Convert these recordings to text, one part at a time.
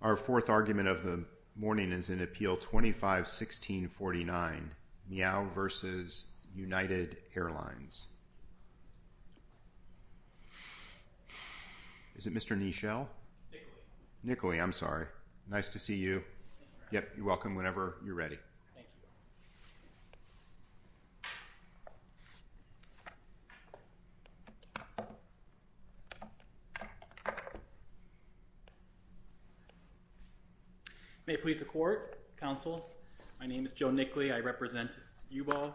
Our fourth argument of the morning is in Appeal 25-1649, Miao v. United Airlines. Is it Mr. Nichelle? Nicolay. Nicolay. I'm sorry. Nice to see you. Thank you. You're welcome. Whenever you're ready. Thank you. May it please the Court, Counsel, my name is Joe Nicholay, I represent Yubo,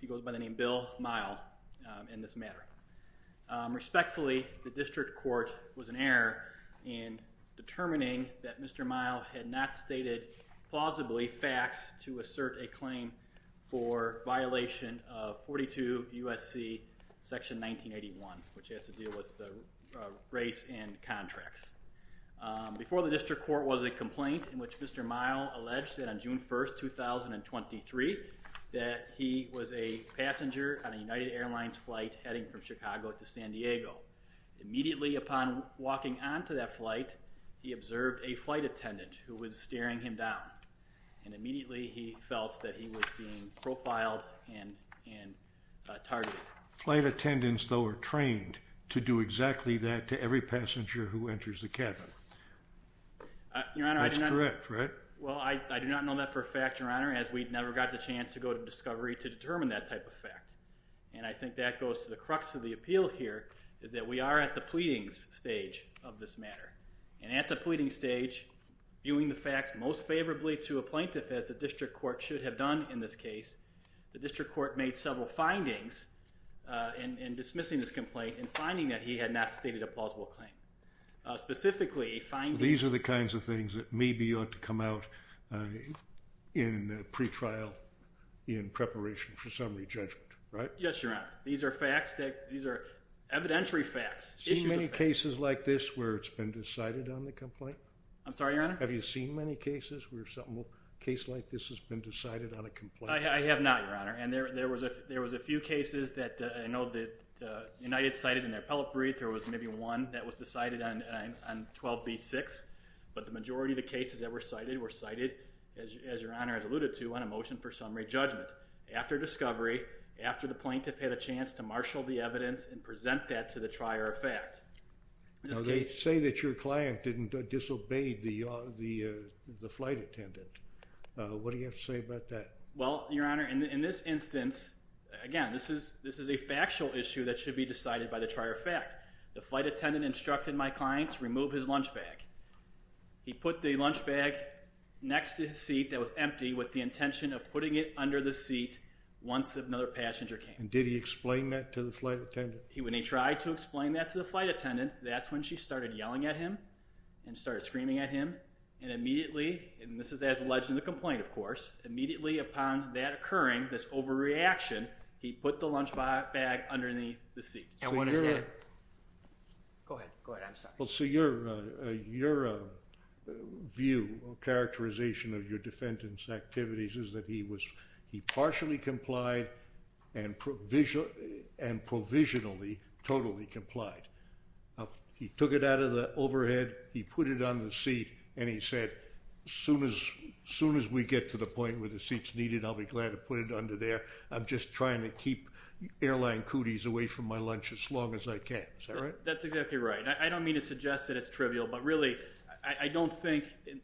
he goes by the name Bill Miao in this matter. Respectfully, the District Court was in error in determining that Mr. Miao had not stated plausibly facts to assert a claim for violation of 42 U.S.C. section 1981, which has to do with race and contracts. Before the District Court was a complaint in which Mr. Miao alleged that on June 1st, 2023, that he was a passenger on a United Airlines flight heading from Chicago to San Diego. Immediately upon walking onto that flight, he observed a flight attendant who was staring him down, and immediately he felt that he was being profiled and targeted. Flight attendants, though, are trained to do exactly that to every passenger who enters the cabin. That's correct, right? Well, I do not know that for a fact, Your Honor, as we never got the chance to go to discovery to determine that type of fact. And I think that goes to the crux of the appeal here, is that we are at the pleadings stage of this matter. And at the pleading stage, viewing the facts most favorably to a plaintiff, as the District Court should have done in this case, the District Court made several findings in dismissing this complaint and finding that he had not stated a plausible claim. Specifically finding... These are the kinds of things that maybe ought to come out in pretrial, in preparation for summary judgment. Right? Yes, Your Honor. These are facts. These are evidentiary facts. Issues of facts. Have you seen many cases like this where it's been decided on the complaint? I'm sorry, Your Honor? Have you seen many cases where something, a case like this has been decided on a complaint? I have not, Your Honor. And there was a few cases that I know that United cited in their appellate brief. There was maybe one that was decided on 12B6, but the majority of the cases that were cited were cited, as Your Honor has alluded to, on a motion for summary judgment, after discovery, after the plaintiff had a chance to marshal the evidence and present that to the trier of fact. Now, they say that your client didn't disobey the flight attendant. What do you have to say about that? Well, Your Honor, in this instance, again, this is a factual issue that should be decided by the trier of fact. The flight attendant instructed my client to remove his lunch bag. He put the lunch bag next to his seat that was empty with the intention of putting it under the seat once another passenger came. And did he explain that to the flight attendant? When he tried to explain that to the flight attendant, that's when she started yelling at him and started screaming at him. And immediately, and this is as alleged in the complaint, of course, immediately upon that occurring, this overreaction, he put the lunch bag underneath the seat. And what is that? Go ahead. I'm sorry. Well, so your view or characterization of your defendant's activities is that he partially complied and provisionally totally complied. He took it out of the overhead, he put it on the seat, and he said, as soon as we get to the point where the seat's needed, I'll be glad to put it under there. I'm just trying to keep airline cooties away from my lunch as long as I can. That's exactly right. I don't mean to suggest that it's trivial, but really, I don't think,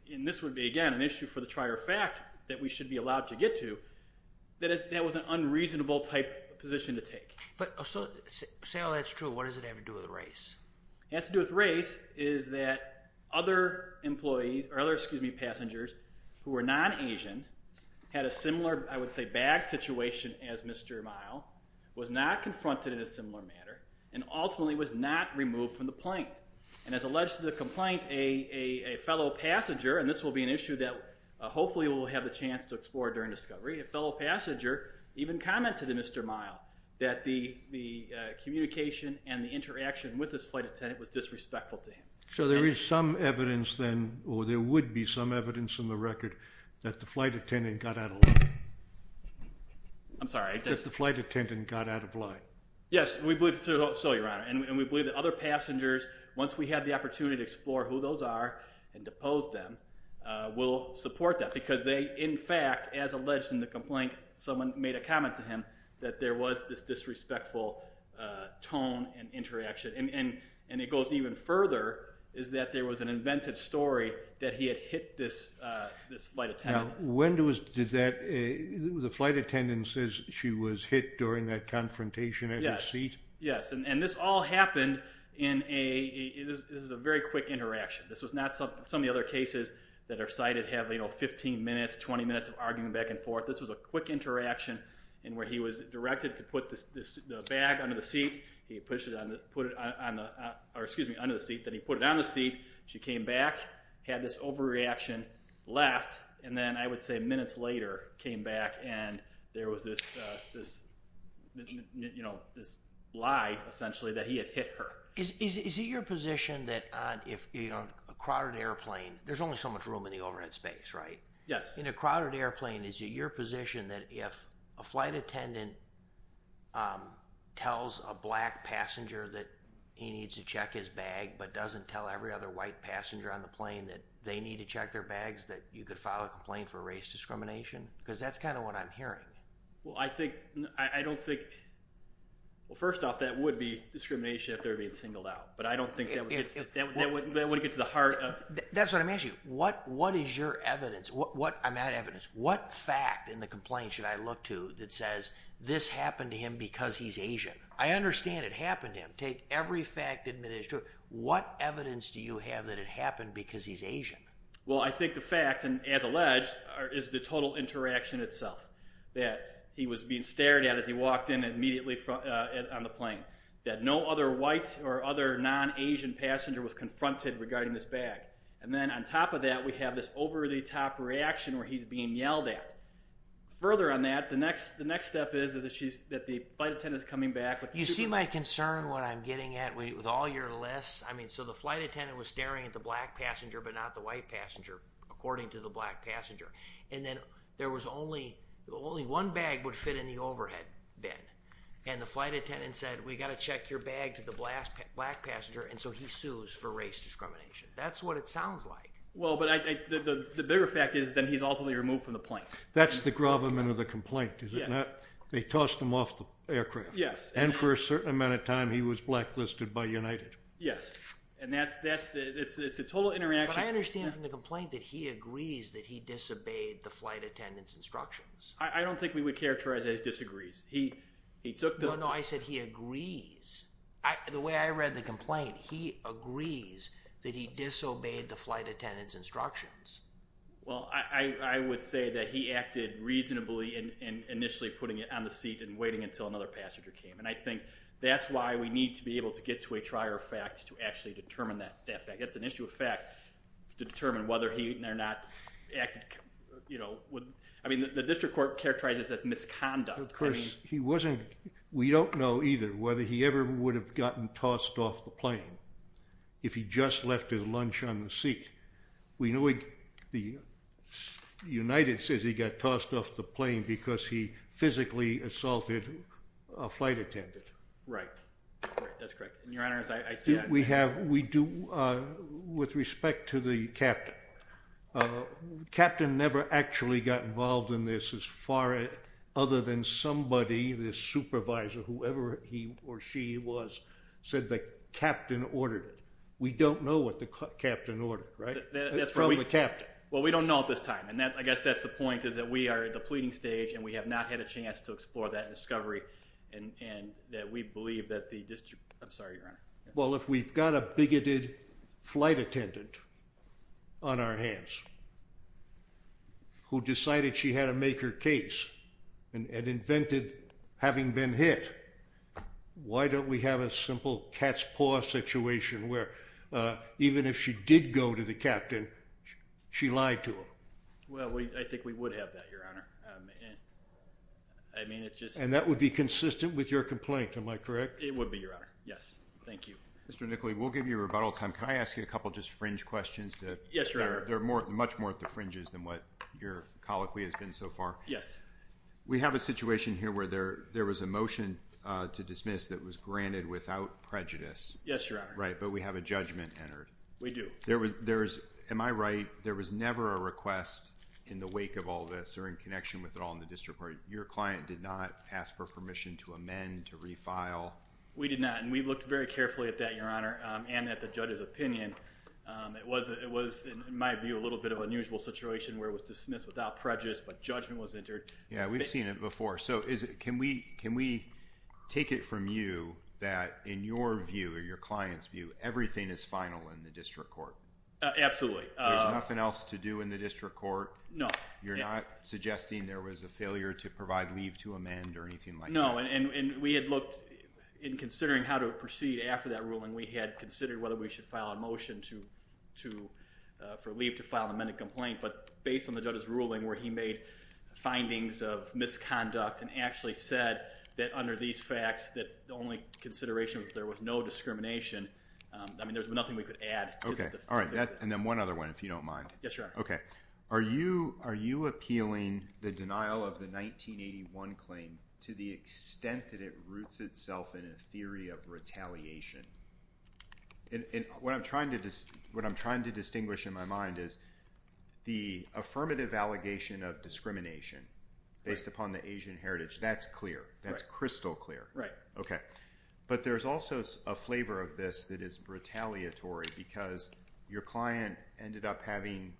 and this would be, again, an issue for the trier of fact that we should be allowed to get to, that that was an unreasonable type of position to take. But say all that's true, what does it have to do with race? It has to do with race is that other employees, or other, excuse me, passengers who are non-Asian had a similar, I would say, bad situation as Mr. Meyl, was not confronted in a similar manner, and ultimately was not removed from the plane. And as alleged to the complaint, a fellow passenger, and this will be an issue that hopefully we'll have the chance to explore during discovery, a fellow passenger even commented to Mr. Meyl that the communication and the interaction with this flight attendant was disrespectful to him. So there is some evidence then, or there would be some evidence in the record, that the flight attendant got out of line. I'm sorry. That the flight attendant got out of line. Yes. We believe so, Your Honor. And we believe that other passengers, once we have the opportunity to explore who those are and depose them, will support that. Because they, in fact, as alleged in the complaint, someone made a comment to him that there was this disrespectful tone and interaction. And it goes even further, is that there was an invented story that he had hit this flight attendant. Now, when was, did that, the flight attendant says she was hit during that confrontation at his seat? Yes. And this all happened in a, this was a very quick interaction. This was not some of the other cases that are cited have, you know, 15 minutes, 20 minutes of arguing back and forth. This was a quick interaction in where he was directed to put the bag under the seat. He pushed it on the, put it on the, or excuse me, under the seat, then he put it on the seat. She came back. Had this overreaction, laughed, and then I would say minutes later came back and there was this, this, you know, this lie, essentially, that he had hit her. Is it your position that if, you know, a crowded airplane, there's only so much room in the overhead space, right? Yes. In a crowded airplane, is it your position that if a flight attendant tells a black passenger that he needs to check his bag, but doesn't tell every other white passenger on the plane that they need to check their bags, that you could file a complaint for race discrimination? Because that's kind of what I'm hearing. Well, I think, I don't think, well, first off, that would be discrimination if they're being singled out. But I don't think that would get to the heart of. That's what I'm asking you. What, what is your evidence? What, what, I'm not evidence. What fact in the complaint should I look to that says this happened to him because he's Asian? I understand it happened to him. Take every fact that's been introduced. What evidence do you have that it happened because he's Asian? Well, I think the facts, and as alleged, is the total interaction itself. That he was being stared at as he walked in immediately on the plane. That no other white or other non-Asian passenger was confronted regarding this bag. And then on top of that, we have this over-the-top reaction where he's being yelled at. Further on that, the next, the next step is, is that she's, that the flight attendant's coming back with. You see my concern, what I'm getting at, with all your lists? I mean, so the flight attendant was staring at the black passenger, but not the white passenger, according to the black passenger. And then there was only, only one bag would fit in the overhead bin. And the flight attendant said, we got to check your bag to the black passenger. And so he sues for race discrimination. That's what it sounds like. Well, but I, the bigger fact is that he's ultimately removed from the plane. That's the gravamen of the complaint, is it not? Yes. They tossed him off the aircraft. Yes. And for a certain amount of time, he was blacklisted by United. Yes. And that's, that's the, it's, it's a total interaction. But I understand from the complaint that he agrees that he disobeyed the flight attendant's instructions. I, I don't think we would characterize it as disagrees. He, he took the. No, no. I said he agrees. I, the way I read the complaint, he agrees that he disobeyed the flight attendant's instructions. Well, I, I would say that he acted reasonably in, in initially putting it on the seat and waiting until another passenger came. And I think that's why we need to be able to get to a trier of fact to actually determine that, that fact. That's an issue of fact to determine whether he or not acted, you know, with, I mean, the district court characterizes it as misconduct. Of course, he wasn't, we don't know either whether he ever would have gotten tossed off the plane if he just left his lunch on the seat. We know he, the United says he got tossed off the plane because he physically assaulted a flight attendant. Right. Right. That's correct. And your honors, I, I see that. We have, we do, with respect to the captain, captain never actually got involved in this as far as, other than somebody, the supervisor, whoever he or she was, said the captain ordered it. We don't know what the captain ordered, right? That's from the captain. Well, we don't know at this time. And that, I guess that's the point is that we are at the pleading stage and we have not had a chance to explore that discovery and, and that we believe that the district, I'm sorry, your honor. Well, if we've got a bigoted flight attendant on our hands who decided she had to make her case and, and invented having been hit, why don't we have a simple cat's paw situation where, uh, even if she did go to the captain, she lied to him? Well, we, I think we would have that, your honor. Um, and I mean, it's just, and that would be consistent with your complaint. Am I correct? It would be your honor. Yes. Thank you. Mr. Nickley. We'll give you a rebuttal time. Can I ask you a couple of just fringe questions? Yes, your honor. There are more, much more at the fringes than what your colloquy has been so far. Yes. We have a situation here where there, there was a motion, uh, to dismiss that was granted without prejudice. Yes, your honor. Right. But we have a judgment entered. We do. There was, there's, am I right? There was never a request in the wake of all this or in connection with it all in the district court. Your client did not ask for permission to amend, to refile. We did not. And we looked very carefully at that, your honor. Um, and that the judge's opinion, um, it was, it was in my view, a little bit of unusual situation where it was dismissed without prejudice, but judgment was entered. Yeah, we've seen it before. So is it, can we, can we take it from you that in your view or your client's view, everything is final in the district court? Absolutely. There's nothing else to do in the district court. No, you're not suggesting there was a failure to provide leave to amend or anything like that. No. And we had looked in considering how to proceed after that ruling, we had considered whether we should file a motion to, to, uh, for leave to file an amendment complaint. But based on the judge's ruling where he made findings of misconduct and actually said that under these facts that the only consideration was there was no discrimination. Um, I mean, there was nothing we could add. All right. And then one other one, if you don't mind. Yes, your honor. Okay. Are you, are you appealing the denial of the 1981 claim to the extent that it roots itself in a theory of retaliation? And what I'm trying to, what I'm trying to distinguish in my mind is the affirmative allegation of discrimination based upon the Asian heritage. That's clear. That's crystal clear. Right. Okay. But there's also a flavor of this that is retaliatory because your client ended up having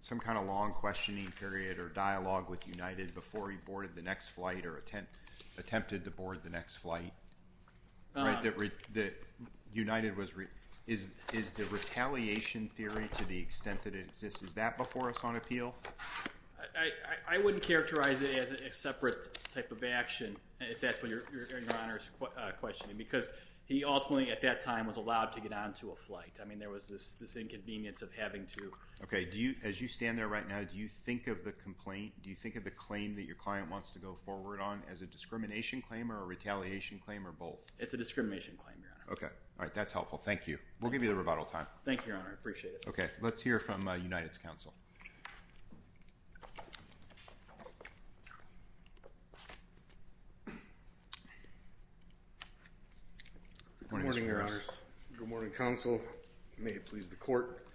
some kind of long questioning period or dialogue with United before he boarded the next flight or attempt, attempted to board the next flight, right? That, that United was, is, is the retaliation theory to the extent that it exists. Is that before us on appeal? I wouldn't characterize it as a separate type of action if that's what your, your, your honor's questioning because he ultimately at that time was allowed to get onto a flight. I mean, there was this, this inconvenience of having to. Okay. Do you, as you stand there right now, do you think of the complaint? Do you think of the claim that your client wants to go forward on as a discrimination claim or a retaliation claim or both? It's a discrimination claim. Yeah. Okay. All right. That's helpful. Thank you. We'll give you the rebuttal time. Thank you, Your Honor. I appreciate it. Okay. Let's hear from a United's counsel. Good morning, Your Honor. Good morning, counsel. May it please the court.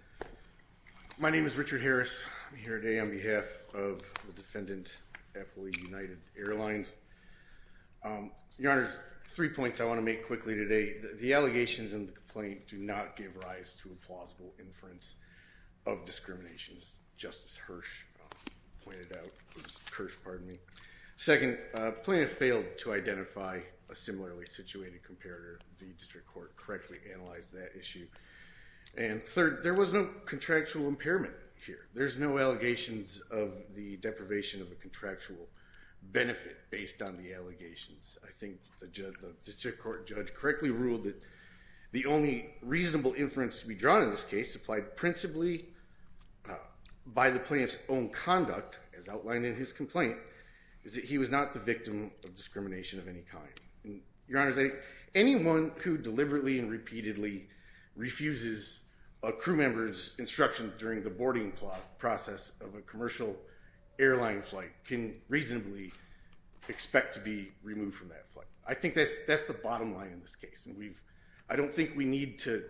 My name is Richard Harris. I'm here today on behalf of the defendant at Hawaii United Airlines. Your Honor, there's three points I want to make quickly today. The allegations in the complaint do not give rise to a plausible inference of discriminations. Justice Hirsch pointed out, who's Kirsch, pardon me, second plaintiff failed to identify a similarly situated comparator. The district court correctly analyzed that issue. And third, there was no contractual impairment here. There's no allegations of the deprivation of a contractual benefit based on the allegations. I think the district court judge correctly ruled that the only reasonable inference to be drawn in this case applied principally by the plaintiff's own conduct as outlined in his complaint is that he was not the victim of discrimination of any kind. Your Honor, anyone who deliberately and repeatedly refuses a crew member's instruction during the boarding process of a commercial airline flight can reasonably expect to be removed from that flight. I think that's the bottom line in this case. I don't think we need to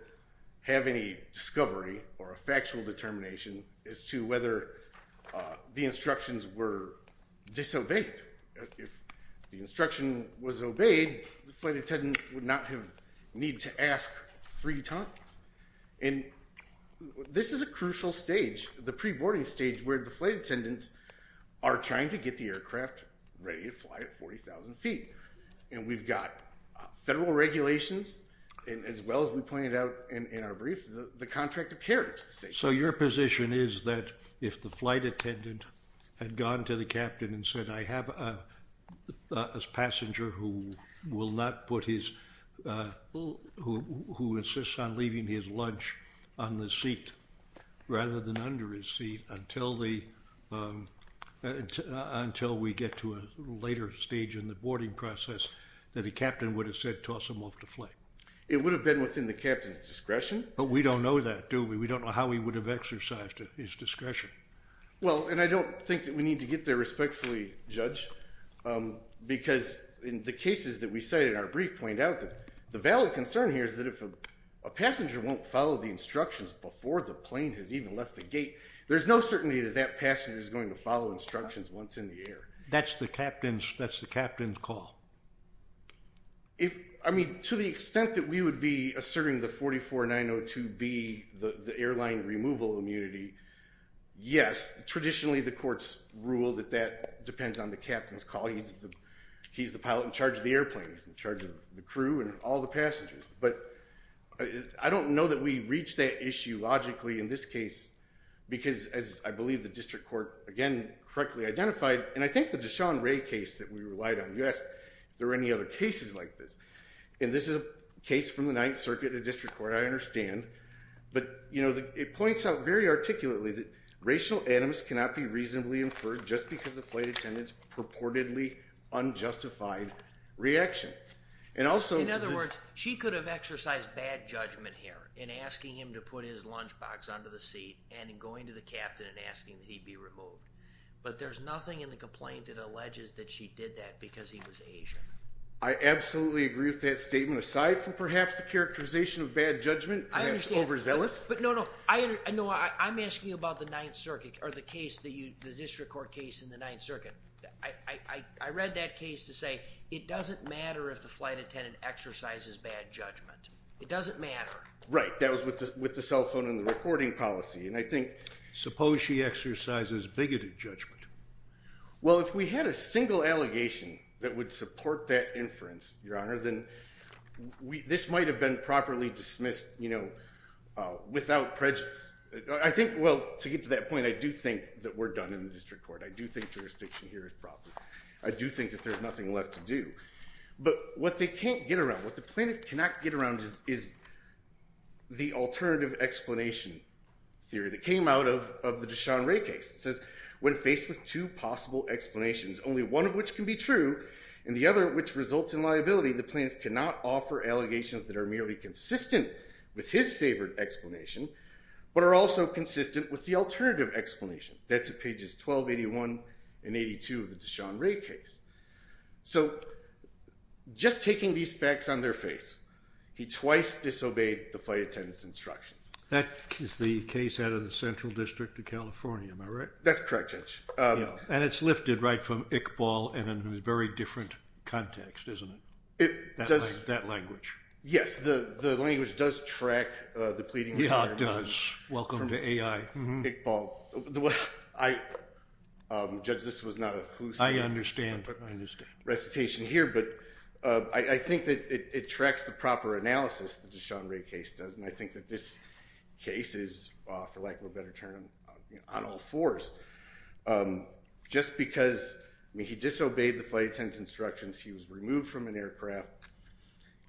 have any discovery or a factual determination as to whether the instructions were disobeyed. If the instruction was obeyed, the flight attendant would not have needed to ask three times. And this is a crucial stage, the pre-boarding stage, where the flight attendants are trying to get the aircraft ready to fly at 40,000 feet. And we've got federal regulations, as well as we pointed out in our brief, the contract of carriage. So your position is that if the flight attendant had gone to the captain and said, I have a passenger who will not put his, who insists on leaving his lunch on the seat rather than under his seat until we get to a later stage in the boarding process, that the captain would have said, toss him off the flight? It would have been within the captain's discretion. But we don't know that, do we? We don't know how he would have exercised his discretion. Well, and I don't think that we need to get there respectfully, Judge, because in the cases that we cite in our brief point out that the valid concern here is that if a passenger won't follow the instructions before the plane has even left the gate, there's no certainty that that passenger is going to follow instructions once in the air. That's the captain's, that's the captain's call. If, I mean, to the extent that we would be asserting the 44902B, the airline removal immunity, yes, traditionally the courts rule that that depends on the captain's call. He's the pilot in charge of the airplanes, in charge of the crew and all the passengers. But I don't know that we reach that issue logically in this case, because as I believe the district court, again, correctly identified, and I think the Deshaun Ray case that we relied on, you asked if there were any other cases like this, and this is a case from the Ninth Circuit, very articulately that racial animus cannot be reasonably inferred just because the flight attendant's purportedly unjustified reaction. And also- In other words, she could have exercised bad judgment here in asking him to put his lunchbox under the seat and going to the captain and asking that he be removed. But there's nothing in the complaint that alleges that she did that because he was Asian. I absolutely agree with that statement, aside from perhaps the characterization of bad judgment and overzealous. I understand. But no, no. I'm asking about the Ninth Circuit, or the case, the district court case in the Ninth Circuit. I read that case to say it doesn't matter if the flight attendant exercises bad judgment. It doesn't matter. Right. That was with the cell phone and the recording policy. And I think- Suppose she exercises bigoted judgment. Well, if we had a single allegation that would support that inference, Your Honor, then this might have been properly dismissed without prejudice. I think- Well, to get to that point, I do think that we're done in the district court. I do think jurisdiction here is proper. I do think that there's nothing left to do. But what they can't get around, what the plaintiff cannot get around is the alternative explanation theory that came out of the Deshaun Ray case. It says, when faced with two possible explanations, only one of which can be true, and the other which results in liability, the plaintiff cannot offer allegations that are merely consistent with his favored explanation, but are also consistent with the alternative explanation. That's at pages 1281 and 82 of the Deshaun Ray case. So just taking these facts on their face, he twice disobeyed the flight attendant's That is the case out of the Central District of California, am I right? That's correct, Judge. And it's lifted right from Iqbal in a very different context, isn't it? That language. Yes. The language does track the pleading of the plaintiff. Yeah, it does. Welcome to AI. Judge, this was not a hallucinogenic recitation here, but I think that it tracks the proper analysis that the Deshaun Ray case does, and I think that this case is, for lack of a better term, on all fours. Just because he disobeyed the flight attendant's instructions, he was removed from an aircraft,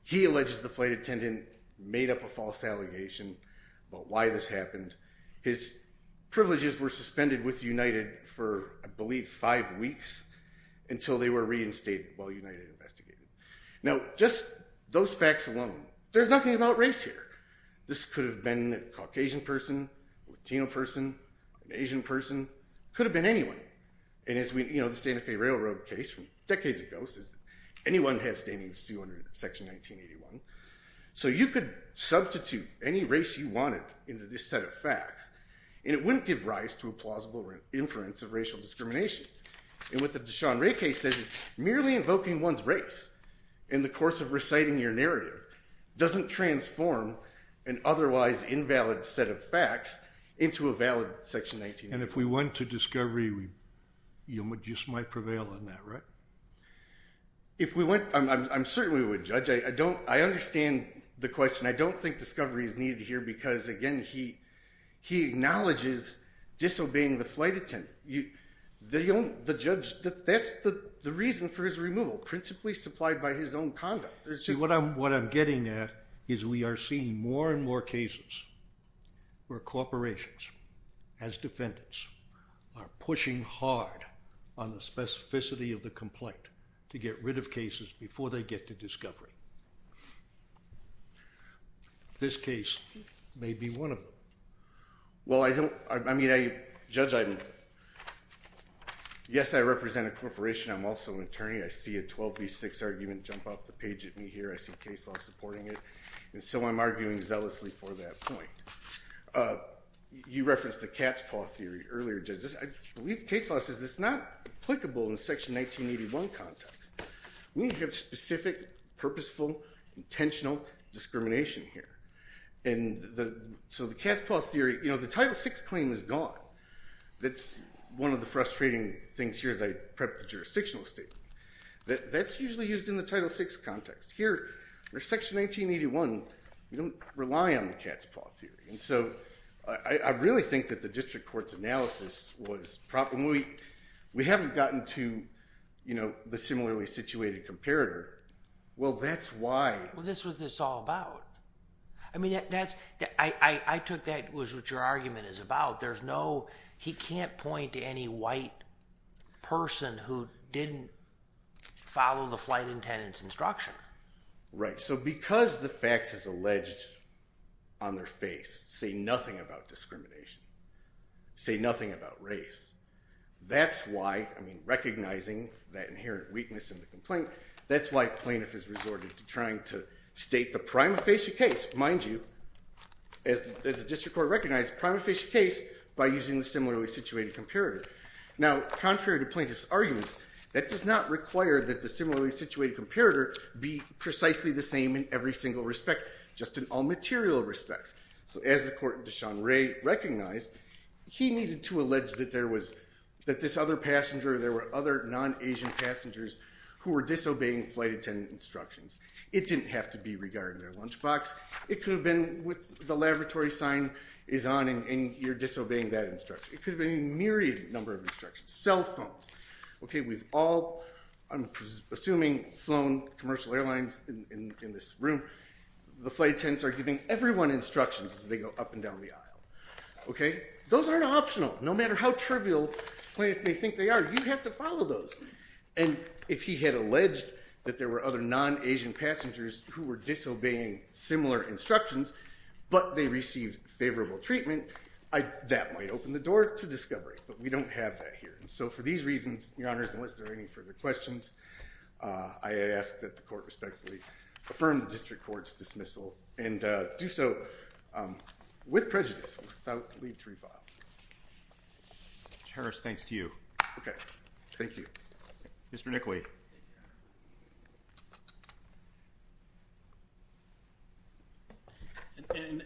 he alleges the flight attendant made up a false allegation about why this happened. His privileges were suspended with United for, I believe, five weeks until they were reinstated while United investigated. Now just those facts alone, there's nothing about race here. This could have been a Caucasian person, a Latino person, an Asian person, could have been anyone. And as we, you know, the Santa Fe Railroad case from decades ago says that anyone has standing to sue under Section 1981. So you could substitute any race you wanted into this set of facts, and it wouldn't give rise to a plausible inference of racial discrimination. And what the Deshaun Ray case says is merely invoking one's race in the course of reciting your narrative doesn't transform an otherwise invalid set of facts into a valid Section 1981. And if we went to discovery, you just might prevail on that, right? If we went, I certainly would, Judge. I understand the question. I don't think discovery is needed here because, again, he acknowledges disobeying the flight attendant. The judge, that's the reason for his removal, principally supplied by his own conduct. What I'm getting at is we are seeing more and more cases where corporations, as defendants, are pushing hard on the specificity of the complaint to get rid of cases before they get to discovery. This case may be one of them. Well, I don't, I mean, Judge, yes, I represent a corporation. I'm also an attorney. I see a 12 v. 6 argument jump off the page of me here. I see case law supporting it. And so I'm arguing zealously for that point. You referenced the cat's paw theory earlier, Judge. I believe case law says this is not applicable in the Section 1981 context. We need to have specific, purposeful, intentional discrimination here. And so the cat's paw theory, you know, the Title VI claim is gone. That's one of the frustrating things here as I prep the jurisdictional statement. That's usually used in the Title VI context. Here, under Section 1981, we don't rely on the cat's paw theory. And so I really think that the district court's analysis was, when we haven't gotten to, you know, the similarly situated comparator, well, that's why. Well, this was this all about. I mean, that's, I took that was what your argument is about. There's no, he can't point to any white person who didn't follow the flight attendant's instruction. Right. So because the facts as alleged on their face say nothing about discrimination, say nothing about race, that's why, I mean, recognizing that inherent weakness in the complaint, that's why plaintiff is resorted to trying to state the prima facie case. Which, mind you, as the district court recognized, prima facie case by using the similarly situated comparator. Now, contrary to plaintiff's arguments, that does not require that the similarly situated comparator be precisely the same in every single respect, just in all material respects. So as the court, Deshaun Ray, recognized, he needed to allege that there was, that this other passenger, there were other non-Asian passengers who were disobeying flight attendant instructions. It didn't have to be regarding their lunchbox. It could have been with the laboratory sign is on and you're disobeying that instruction. It could have been a myriad number of instructions. Cell phones. Okay. We've all, I'm assuming flown commercial airlines in this room, the flight attendants are giving everyone instructions as they go up and down the aisle. Okay. Those aren't optional. No matter how trivial plaintiff may think they are, you have to follow those. And if he had alleged that there were other non-Asian passengers who were disobeying similar instructions, but they received favorable treatment, I, that might open the door to discovery, but we don't have that here. So for these reasons, your honors, unless there are any further questions, uh, I asked that the court respectfully affirmed the district court's dismissal and, uh, do so, um, with prejudice without leave to refile. Cherish. Thanks to you. Okay. Thank you. Mr. Nickley.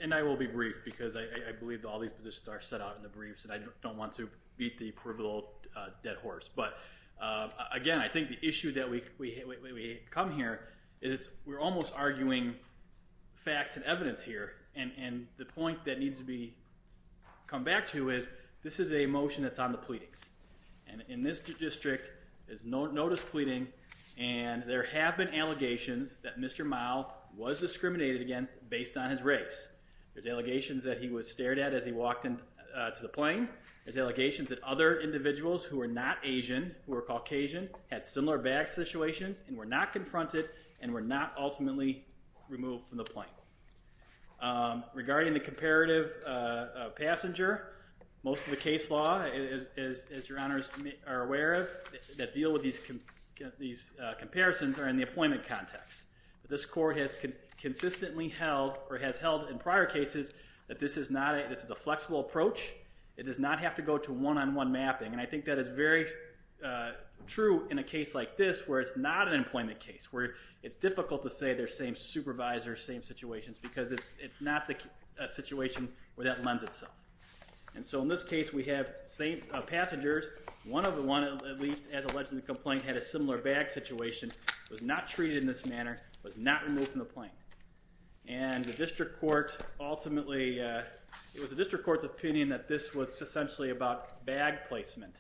And I will be brief because I, I believe that all these positions are set out in the briefs and I don't want to beat the peripheral, uh, dead horse. But, uh, again, I think the issue that we, we, we, we come here is it's, we're almost arguing facts and evidence here. And, and the point that needs to be come back to is this is a motion that's on the pleadings and in this district is no notice pleading. And there have been allegations that Mr. Mile was discriminated against based on his race. There's allegations that he was stared at as he walked into, uh, to the plane. There's allegations that other individuals who are not Asian, who are Caucasian had similar bag situations and were not confronted and were not ultimately removed from the plane. Um, regarding the comparative, uh, uh, passenger, most of the case law is, is, is your honors are aware of that deal with these, these, uh, comparisons are in the appointment context. This court has consistently held or has held in prior cases that this is not a, this is a flexible approach. It does not have to go to one-on-one mapping. And I think that is very, uh, true in a case like this where it's not an employment case, where it's difficult to say they're same supervisor, same situations because it's, it's not a situation where that lends itself. And so in this case we have same, uh, passengers, one of the one at least as alleged in the complaint had a similar bag situation, was not treated in this manner, was not removed from the plane. And the district court ultimately, uh, it was the district court's opinion that this was essentially about bag placement.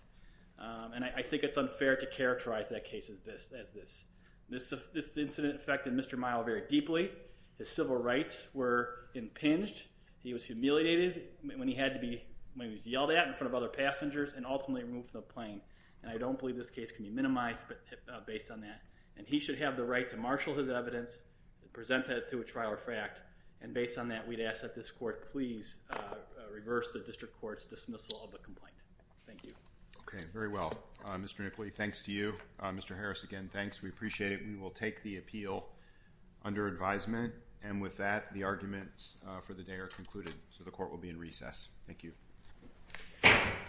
Um, and I think it's unfair to characterize that case as this, as this. This, uh, this incident affected Mr. Myle very deeply. His civil rights were impinged. He was humiliated when he had to be, when he was yelled at in front of other passengers and ultimately removed from the plane. And I don't believe this case can be minimized, but, uh, based on that. And he should have the right to marshal his evidence, present that to a trial or fract. And based on that, we'd ask that this court please, uh, reverse the district court's dismissal of the complaint. Thank you. Okay. Very well. Uh, Mr. McLee, thanks to you. Uh, Mr. Harris, again, thanks. We appreciate it. We will take the appeal under advisement. And with that, the arguments, uh, for the day are concluded. So the court will be in recess. Thank you.